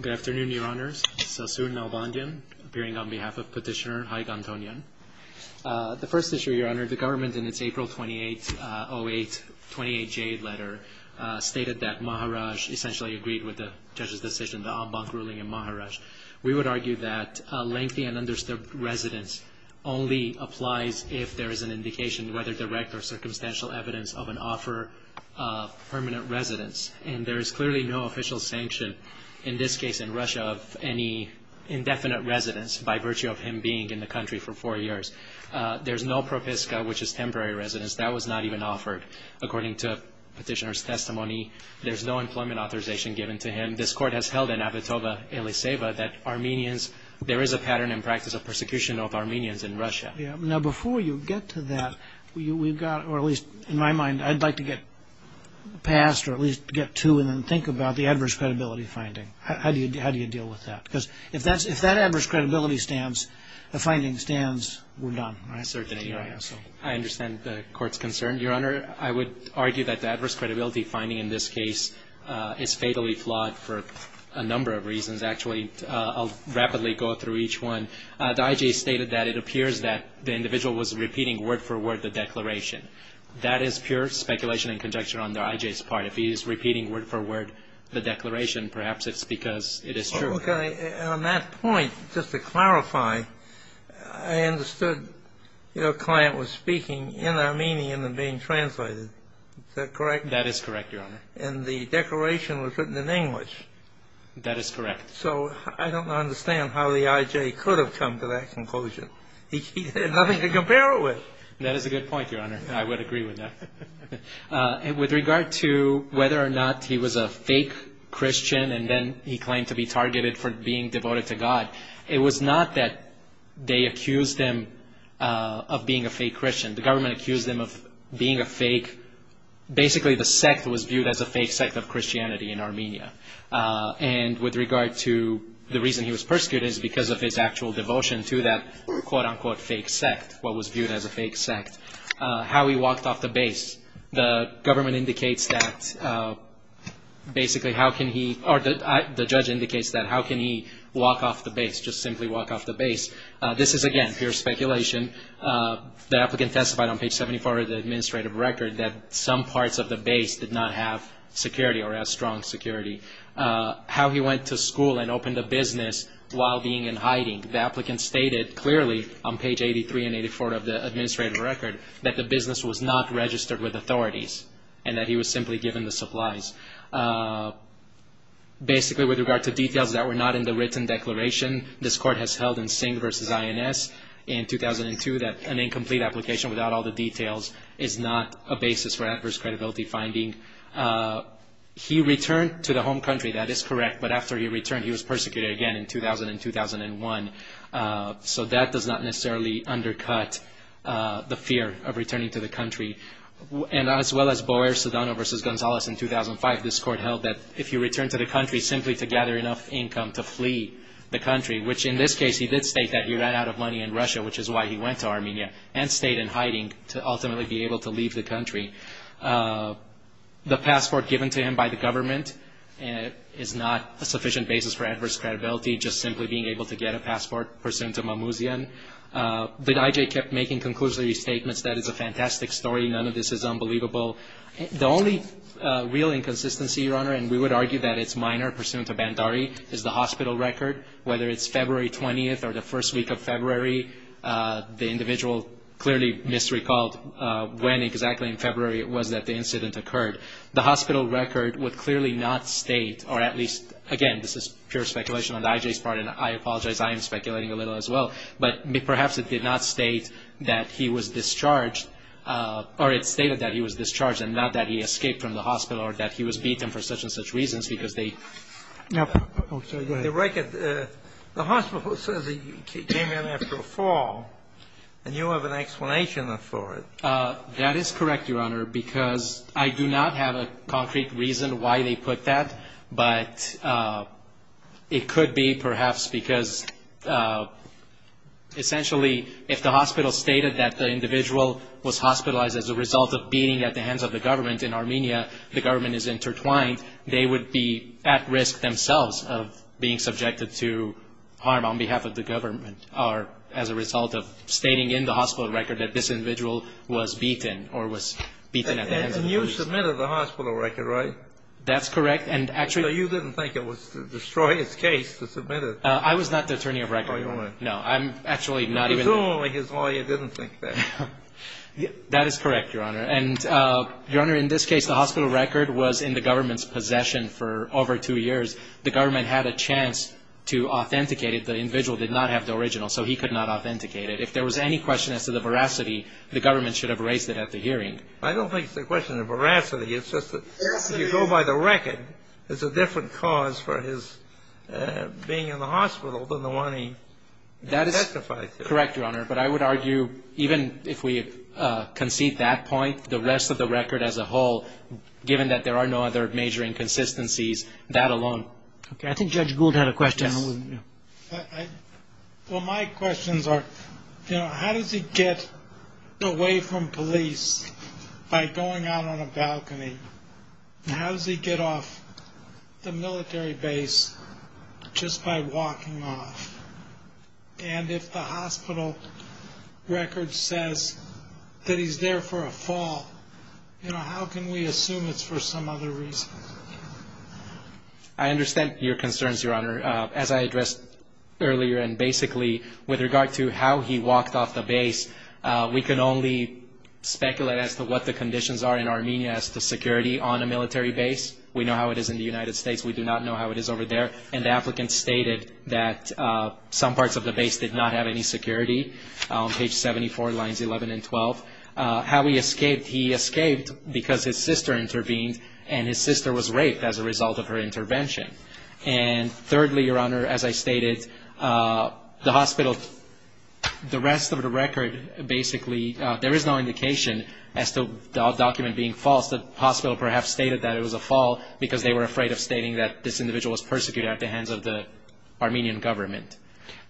Good afternoon, Your Honours. It's Asun Nalbandyan, appearing on behalf of Petitioner Haig Antonyan. The first issue, Your Honour, the government in its April 28, 08, 28J letter stated that Maharaj essentially agreed with the judge's decision, the ambank ruling in Maharaj. We would argue that lengthy and undisturbed residence only applies if there is an indication, whether direct or circumstantial, evidence of an offer of permanent residence. And there is clearly no official sanction, in this case in Russia, of any indefinite residence by virtue of him being in the country for four years. There's no propiska, which is temporary residence. That was not even offered. According to Petitioner's testimony, there's no employment authorization given to him. This Court has held in Avitova-Eliseva that Armenians, Now, before you get to that, we've got, or at least in my mind, I'd like to get past or at least get to and then think about the adverse credibility finding. How do you deal with that? Because if that adverse credibility stands, the finding stands, we're done. I understand the Court's concern. Your Honour, I would argue that the adverse credibility finding in this case is fatally flawed for a number of reasons. Actually, I'll rapidly go through each one. The I.J. stated that it appears that the individual was repeating word for word the declaration. That is pure speculation and conjecture on the I.J.'s part. If he is repeating word for word the declaration, perhaps it's because it is true. Okay. And on that point, just to clarify, I understood your client was speaking in Armenian and being translated. Is that correct? That is correct, Your Honour. And the declaration was written in English. That is correct. So I don't understand how the I.J. could have come to that conclusion. He had nothing to compare it with. That is a good point, Your Honour. I would agree with that. And with regard to whether or not he was a fake Christian and then he claimed to be targeted for being devoted to God, it was not that they accused him of being a fake Christian. The government accused him of being a fake. Basically, the sect was viewed as a fake sect of Christianity in Armenia. And with regard to the reason he was persecuted is because of his actual devotion to that quote-unquote fake sect, what was viewed as a fake sect. How he walked off the base, the government indicates that basically how can he or the judge indicates that how can he walk off the base, just simply walk off the base. This is, again, pure speculation. The applicant testified on page 74 of the administrative record that some parts of the base did not have security or have strong security. How he went to school and opened a business while being in hiding, the applicant stated clearly on page 83 and 84 of the administrative record that the business was not registered with authorities and that he was simply given the supplies. Basically, with regard to details that were not in the written declaration, this Court has held in Singh v. INS in 2002 that an incomplete application without all the details is not a basis for adverse credibility finding. He returned to the home country. That is correct. But after he returned, he was persecuted again in 2000 and 2001. So that does not necessarily undercut the fear of returning to the country. And as well as Boer, Sedano v. Gonzalez in 2005, this Court held that if you return to the country simply to gather enough income to flee the country, which in this case he did state that he ran out of money in Russia, which is why he went to Armenia and stayed in hiding to ultimately be able to leave the country. The passport given to him by the government is not a sufficient basis for adverse credibility, just simply being able to get a passport pursuant to Mamouzian. But I.J. kept making conclusory statements that it's a fantastic story, none of this is unbelievable. The only real inconsistency, Your Honor, and we would argue that it's minor, pursuant to Bandari, is the hospital record. Whether it's February 20th or the first week of February, the individual clearly misrecalled when exactly in February it was that the incident occurred. The hospital record would clearly not state, or at least, again, this is pure speculation on I.J.'s part, and I apologize, I am speculating a little as well, but perhaps it did not state that he was discharged, or it stated that he was discharged and not that he escaped from the hospital or that he was beaten for such and such reasons because they... The hospital says he came in after a fall, and you have an explanation for it. That is correct, Your Honor, because I do not have a concrete reason why they put that, but it could be perhaps because essentially if the hospital stated that the individual was hospitalized as a result of beating at the hands of the government in Armenia, the government is intertwined, they would be at risk themselves of being subjected to harm on behalf of the government or as a result of stating in the hospital record that this individual was beaten or was beaten at the hands of... And you submitted the hospital record, right? That's correct, and actually... So you didn't think it was to destroy his case to submit it? I was not the attorney of record. Oh, you weren't. No, I'm actually not even... It's only his lawyer didn't think that. That is correct, Your Honor. And, Your Honor, in this case, the hospital record was in the government's possession for over two years. The government had a chance to authenticate it. The individual did not have the original, so he could not authenticate it. If there was any question as to the veracity, the government should have raised it at the hearing. I don't think it's a question of veracity. It's just that if you go by the record, it's a different cause for his being in the hospital than the one he testified to. You're correct, Your Honor, but I would argue even if we concede that point, the rest of the record as a whole, given that there are no other major inconsistencies, that alone... Okay, I think Judge Gould had a question. Well, my questions are, you know, how does he get away from police by going out on a balcony? How does he get off the military base just by walking off? And, if the hospital record says that he's there for a fall, you know, how can we assume it's for some other reason? I understand your concerns, Your Honor. As I addressed earlier and basically with regard to how he walked off the base, we can only speculate as to what the conditions are in Armenia as to security on a military base. We know how it is in the United States. We do not know how it is over there. And the applicant stated that some parts of the base did not have any security, page 74, lines 11 and 12. How he escaped, he escaped because his sister intervened, and his sister was raped as a result of her intervention. And, thirdly, Your Honor, as I stated, the hospital, the rest of the record basically, there is no indication as to the document being false. The hospital perhaps stated that it was a fall because they were afraid of stating that this individual was persecuted at the hands of the Armenian government.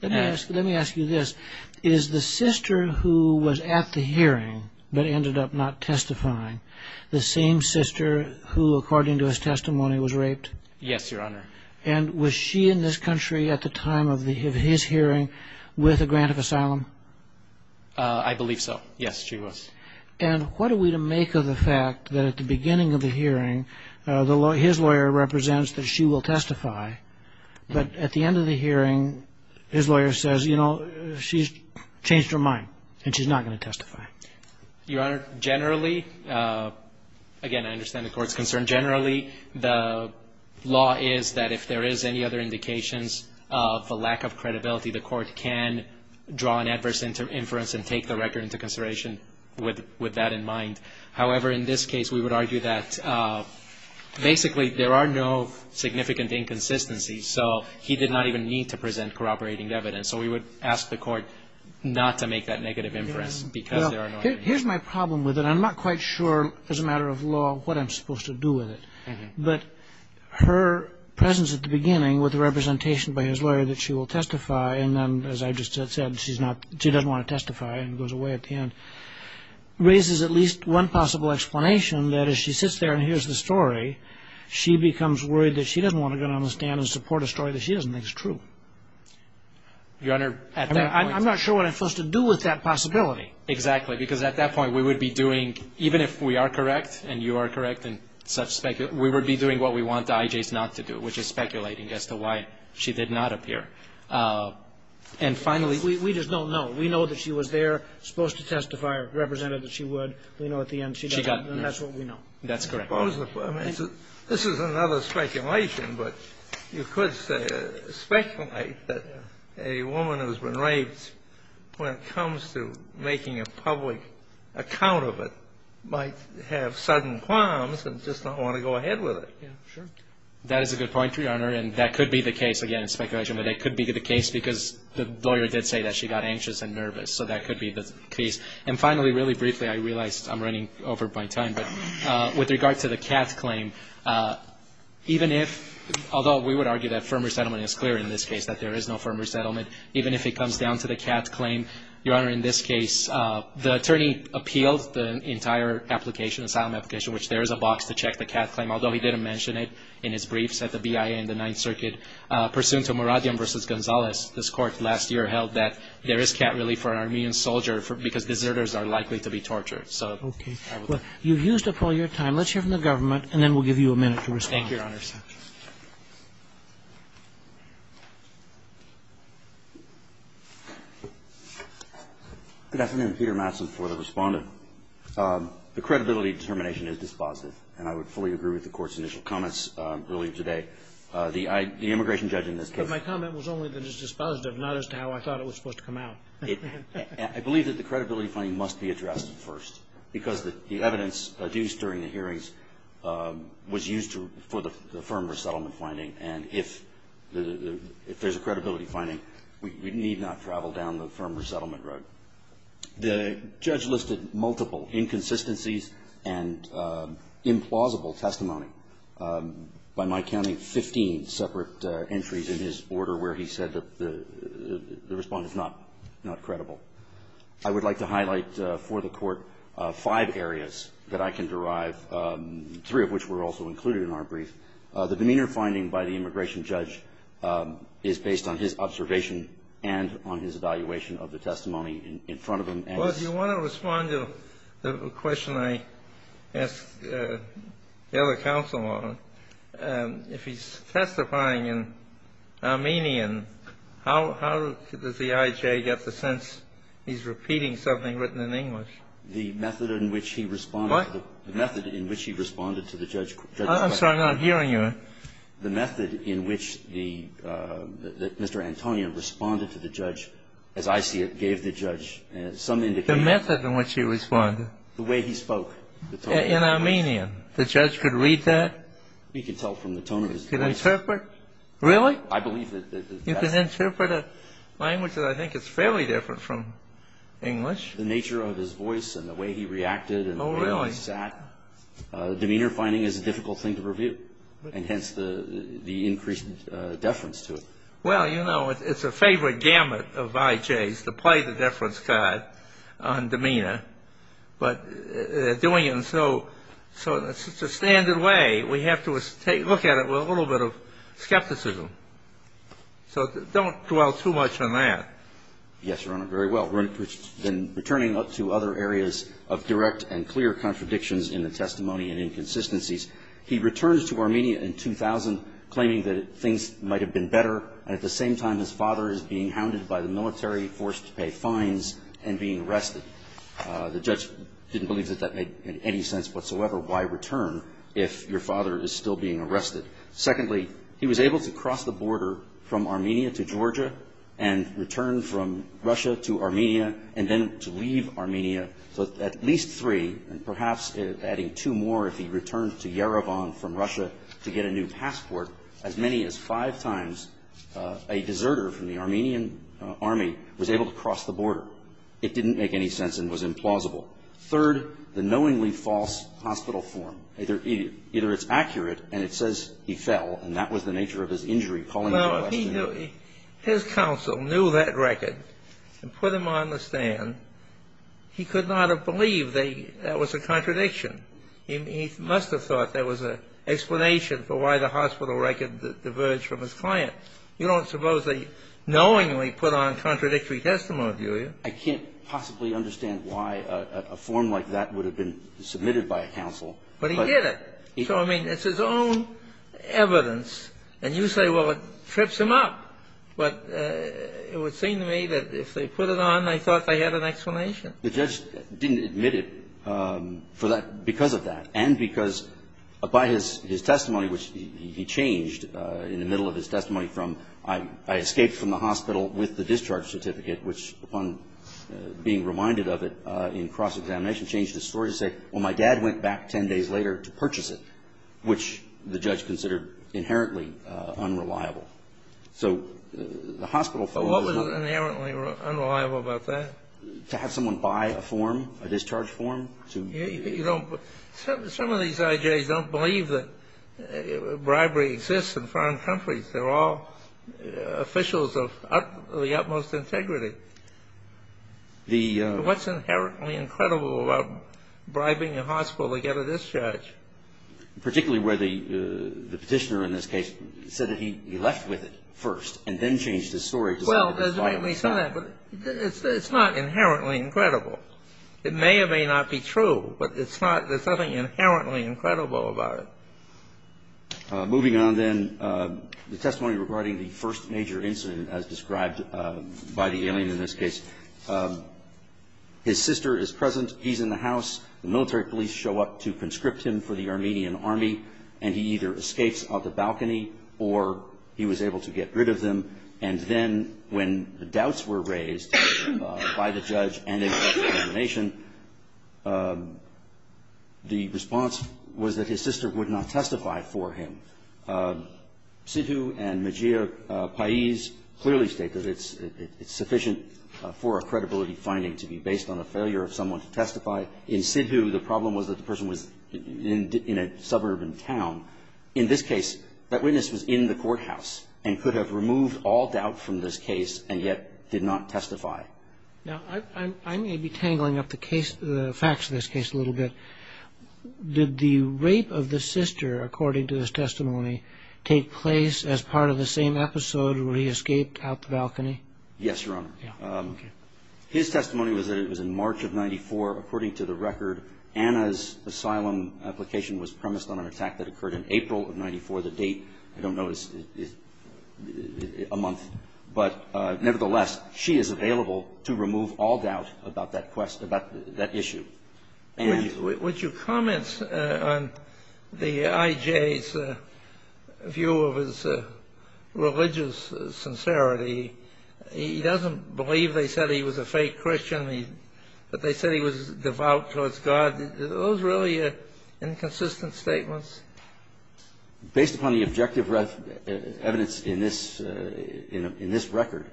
Let me ask you this. Is the sister who was at the hearing but ended up not testifying the same sister who, according to his testimony, was raped? Yes, Your Honor. And was she in this country at the time of his hearing with a grant of asylum? I believe so. Yes, she was. And what are we to make of the fact that at the beginning of the hearing, his lawyer represents that she will testify, but at the end of the hearing, his lawyer says, you know, she's changed her mind and she's not going to testify? Your Honor, generally, again, I understand the Court's concern. Generally, the law is that if there is any other indications of a lack of credibility, the Court can draw an adverse inference and take the record into consideration with that in mind. However, in this case, we would argue that basically there are no significant inconsistencies, so he did not even need to present corroborating evidence. So we would ask the Court not to make that negative inference because there are no inconsistencies. Here's my problem with it. I'm not quite sure as a matter of law what I'm supposed to do with it. But her presence at the beginning with the representation by his lawyer that she will testify, and then, as I just said, she doesn't want to testify and goes away at the end, raises at least one possible explanation that as she sits there and hears the story, she becomes worried that she doesn't want to go down the stand and support a story that she doesn't think is true. Your Honor, at that point ---- I'm not sure what I'm supposed to do with that possibility. Exactly. Because at that point, we would be doing, even if we are correct and you are correct and such speculation, we would be doing what we want the IJs not to do, which is speculating as to why she did not appear. And finally ---- We just don't know. We know that she was there, supposed to testify, represented that she would. We know at the end she doesn't, and that's what we know. That's correct. I mean, this is another speculation, but you could speculate that a woman who has been taking a public account of it might have sudden qualms and just not want to go ahead with it. Yeah, sure. That is a good point, Your Honor, and that could be the case, again, in speculation, but it could be the case because the lawyer did say that she got anxious and nervous, so that could be the case. And finally, really briefly, I realize I'm running over my time, but with regard to the Katz claim, even if, although we would argue that firm resettlement is clear in this case, that there is no firm resettlement, even if it comes down to the Katz claim, Your Honor, in this case, the attorney appealed the entire application, asylum application, which there is a box to check the Katz claim, although he didn't mention it in his briefs at the BIA in the Ninth Circuit. Pursuant to Muradian v. Gonzalez, this Court last year held that there is Katz relief for an Armenian soldier because deserters are likely to be tortured. Okay. Well, you've used up all your time. Let's hear from the government, and then we'll give you a minute to respond. Thank you, Your Honor. Thank you, Your Honor. Good afternoon. Peter Matson for the Respondent. The credibility determination is dispositive, and I would fully agree with the Court's initial comments earlier today. The immigration judge in this case ---- But my comment was only that it's dispositive, not as to how I thought it was supposed to come out. I believe that the credibility finding must be addressed first, because the evidence adduced during the hearings was used for the firm resettlement finding, and if there's a credibility finding, we need not travel down the firm resettlement road. The judge listed multiple inconsistencies and implausible testimony. By my counting, 15 separate entries in his order where he said that the Respondent is not credible. I would like to highlight for the Court five areas that I can derive, three of which were also included in our brief. The demeanor finding by the immigration judge is based on his observation and on his evaluation of the testimony in front of him. Well, if you want to respond to the question I asked the other counsel on, if he's repeating something written in English. The method in which he responded to the judge's question. I'm sorry. I'm not hearing you. The method in which the Mr. Antonio responded to the judge, as I see it, gave the judge some indication. The method in which he responded. The way he spoke. In Armenian. The judge could read that. He could tell from the tone of his voice. He could interpret. Really? I believe that the best ---- He could interpret a language that I think is fairly different from English. The nature of his voice and the way he reacted and the way he sat. Oh, really? Demeanor finding is a difficult thing to review, and hence the increased deference to it. Well, you know, it's a favorite gamut of IJs to play the deference card on demeanor. But doing it in such a standard way, we have to look at it with a little bit of skepticism. So don't dwell too much on that. Yes, Your Honor. Very well. We're returning up to other areas of direct and clear contradictions in the testimony and inconsistencies. He returns to Armenia in 2000 claiming that things might have been better, and at the same time, his father is being hounded by the military, forced to pay fines, and being arrested. The judge didn't believe that that made any sense whatsoever. Why return if your father is still being arrested? Secondly, he was able to cross the border from Armenia to Georgia and return from Russia to Armenia and then to leave Armenia. So at least three, and perhaps adding two more, if he returned to Yerevan from Russia to get a new passport, as many as five times, a deserter from the Armenian army was able to cross the border. It didn't make any sense and was implausible. Third, the knowingly false hospital form. Either it's accurate and it says he fell and that was the nature of his injury, calling the question. Well, if his counsel knew that record and put him on the stand, he could not have believed that was a contradiction. He must have thought there was an explanation for why the hospital record diverged from his client. You don't suppose they knowingly put on contradictory testimony, do you? I can't possibly understand why a form like that would have been submitted by a judge. I don't get it. So, I mean, it's his own evidence. And you say, well, it trips him up. But it would seem to me that if they put it on, they thought they had an explanation. The judge didn't admit it for that – because of that, and because by his testimony, which he changed in the middle of his testimony from, I escaped from the hospital with the discharge certificate, which, upon being reminded of it in cross-examination, changed his story to say, well, my dad went back 10 days later to purchase it, which the judge considered inherently unreliable. So the hospital form was not – But what was inherently unreliable about that? To have someone buy a form, a discharge form to – You don't – some of these IJs don't believe that bribery exists in foreign countries. They're all officials of the utmost integrity. The – But what's inherently incredible about bribing a hospital to get a discharge? Particularly where the petitioner in this case said that he left with it first and then changed his story to say that it was viable. Well, there's a reason for that, but it's not inherently incredible. It may or may not be true, but it's not – there's nothing inherently incredible about it. Moving on, then, the testimony regarding the first major incident, as described by the alien in this case. His sister is present. He's in the house. The military police show up to conscript him for the Armenian army, and he either escapes off the balcony or he was able to get rid of them. And then when the doubts were raised by the judge and in cross-examination, the response was that his sister would not testify for him. Sidhu and Majir Paiz clearly state that it's sufficient for a credibility finding to be based on a failure of someone to testify. In Sidhu, the problem was that the person was in a suburban town. In this case, that witness was in the courthouse and could have removed all doubt from this case and yet did not testify. Now, I may be tangling up the facts of this case a little bit. Did the rape of the sister, according to this testimony, take place as part of the same episode where he escaped out the balcony? Yes, Your Honor. His testimony was that it was in March of 1994. According to the record, Anna's asylum application was premised on an attack that occurred in April of 1994. The date, I don't know, is a month. But nevertheless, she is available to remove all doubt about that issue. Would you comment on the I.J.'s view of his religious sincerity? He doesn't believe they said he was a fake Christian, but they said he was devout towards God. Are those really inconsistent statements? Based upon the objective evidence in this record,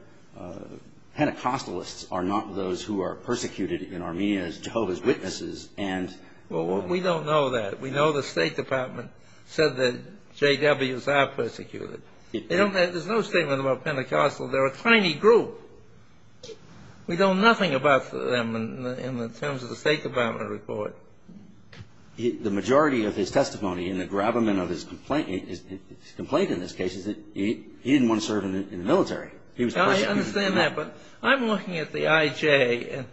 Pentecostalists are not those who are persecuted in Armenia as Jehovah's Witnesses. We don't know that. We know the State Department said that J.W.s are persecuted. There's no statement about Pentecostals. They're a tiny group. We know nothing about them in terms of the State Department report. The majority of his testimony and the grabbement of his complaint in this case is that he didn't want to serve in the military. He was persecuted. I understand that, but I'm looking at the I.J. and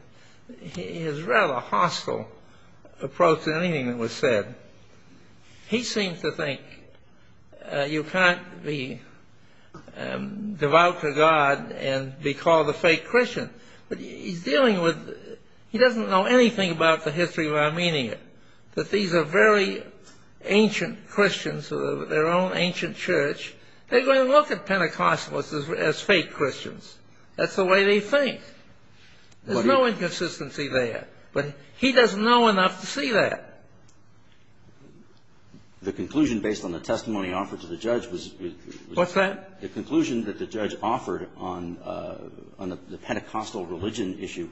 his rather hostile approach to anything that was said. He seems to think you can't be devout to God and be called a fake Christian. He doesn't know anything about the history of Armenia, that these are very ancient Christians with their own ancient church. They're going to look at Pentecostals as fake Christians. That's the way they think. There's no inconsistency there, but he doesn't know enough to see that. The conclusion based on the testimony offered to the judge was What's that? The conclusion that the judge offered on the Pentecostal religion issue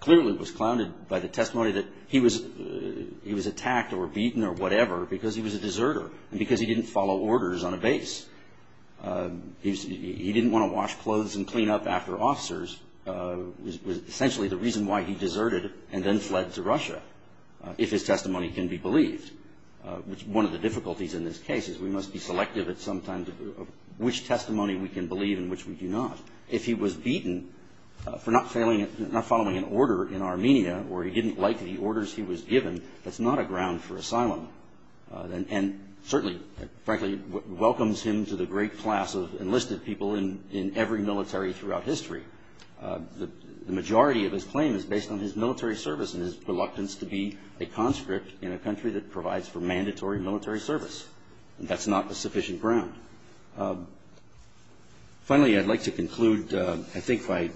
clearly was clouded by the testimony that he was attacked or beaten or whatever because he was a deserter and because he didn't follow orders on a base. He didn't want to wash clothes and clean up after officers, which was essentially the reason why he deserted and then fled to Russia, if his testimony can be believed, which one of the difficulties in this case is we must be selective at some time of which testimony we can believe and which we do not. If he was beaten for not following an order in Armenia or he didn't like the orders he was given, that's not a ground for asylum and certainly, frankly, welcomes him to the great class of enlisted people in every military throughout history. The majority of his claim is based on his military service and his reluctance to be a conscript in a country that provides for mandatory military service. That's not a sufficient ground. Finally, I'd like to conclude, I think, by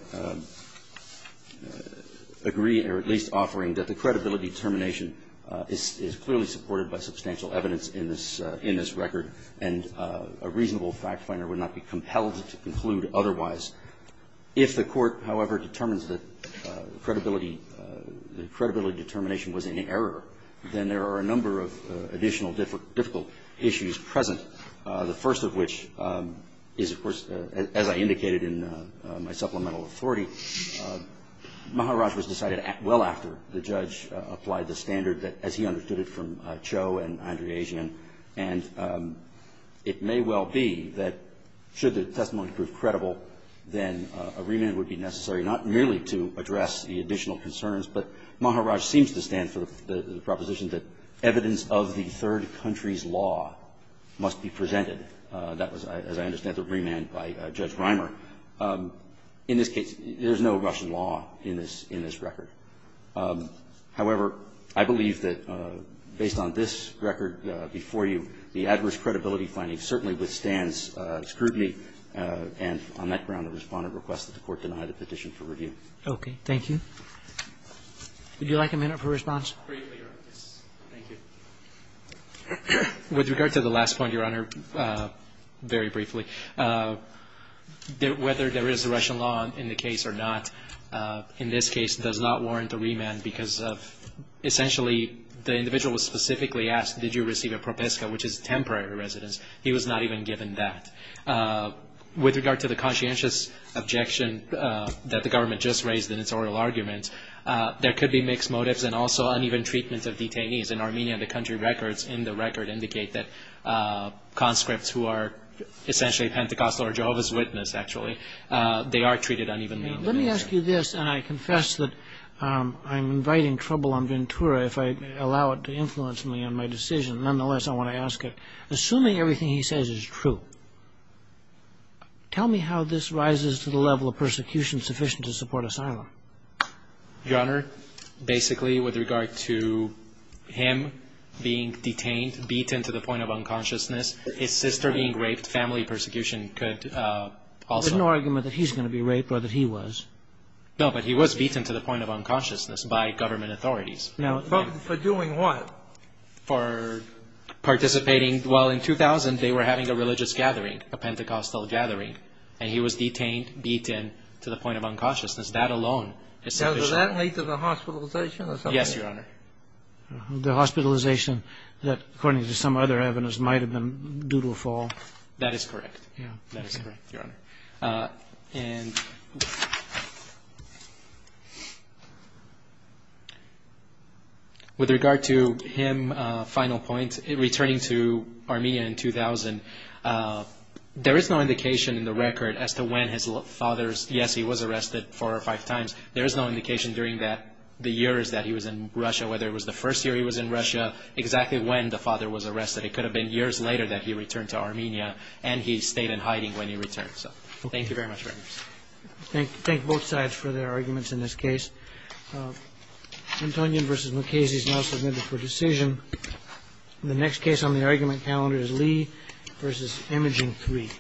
agreeing or at least offering that the credibility determination is clearly supported by substantial evidence in this record and a reasonable fact finder would not be compelled to conclude otherwise. If the court, however, determines that the credibility determination was in error, then there are a number of additional difficult issues present, the first of which is, of course, as I indicated in my supplemental authority, Maharaj was decided well after the judge applied the standard as he understood it from Cho and it may well be that should the testimony prove credible, then a remand would be necessary not merely to address the additional concerns, but Maharaj seems to stand for the proposition that evidence of the third country's law must be presented. That was, as I understand, the remand by Judge Reimer. In this case, there's no Russian law in this record. However, I believe that based on this record before you, the adverse credibility finding certainly withstands scrutiny and on that ground the Respondent requests that the court deny the petition for review. Okay. Thank you. Would you like a minute for response? Briefly, Your Honor. Thank you. With regard to the last point, Your Honor, very briefly, whether there is a Russian law in the case or not, in this case does not warrant a remand because of essentially the individual was specifically asked did you receive a propiska, which is temporary residence. He was not even given that. With regard to the conscientious objection that the government just raised in its oral argument, there could be mixed motives and also uneven treatment of detainees. In Armenia, the country records in the record indicate that conscripts who are essentially Pentecostal or Jehovah's Witness, actually, they are treated unevenly. Let me ask you this, and I confess that I'm inviting trouble on Ventura if I allow it to influence me in my decision. Nonetheless, I want to ask it. Assuming everything he says is true, tell me how this rises to the level of persecution sufficient to support asylum. Your Honor, basically, with regard to him being detained, beaten to the point of unconsciousness, his sister being raped, family persecution could also. There's no argument that he's going to be raped or that he was. No, but he was beaten to the point of unconsciousness by government authorities. For doing what? For participating. Well, in 2000, they were having a religious gathering, a Pentecostal gathering, and he was detained, beaten to the point of unconsciousness. That alone is sufficient. Now, does that lead to the hospitalization or something? Yes, Your Honor. The hospitalization that, according to some other evidence, might have been due to a fall. That is correct. That is correct, Your Honor. With regard to him, final point, returning to Armenia in 2000, there is no indication in the record as to when his father's, yes, he was arrested four or five times. There is no indication during the years that he was in Russia, whether it was the first year he was in Russia, exactly when the father was arrested. It could have been years later that he returned to Armenia, and he stayed in hiding when he returned. Thank you very much, Your Honor. Thank both sides for their arguments in this case. Antonin v. Mukasey is now submitted for decision. The next case on the argument calendar is Lee v. Imaging III.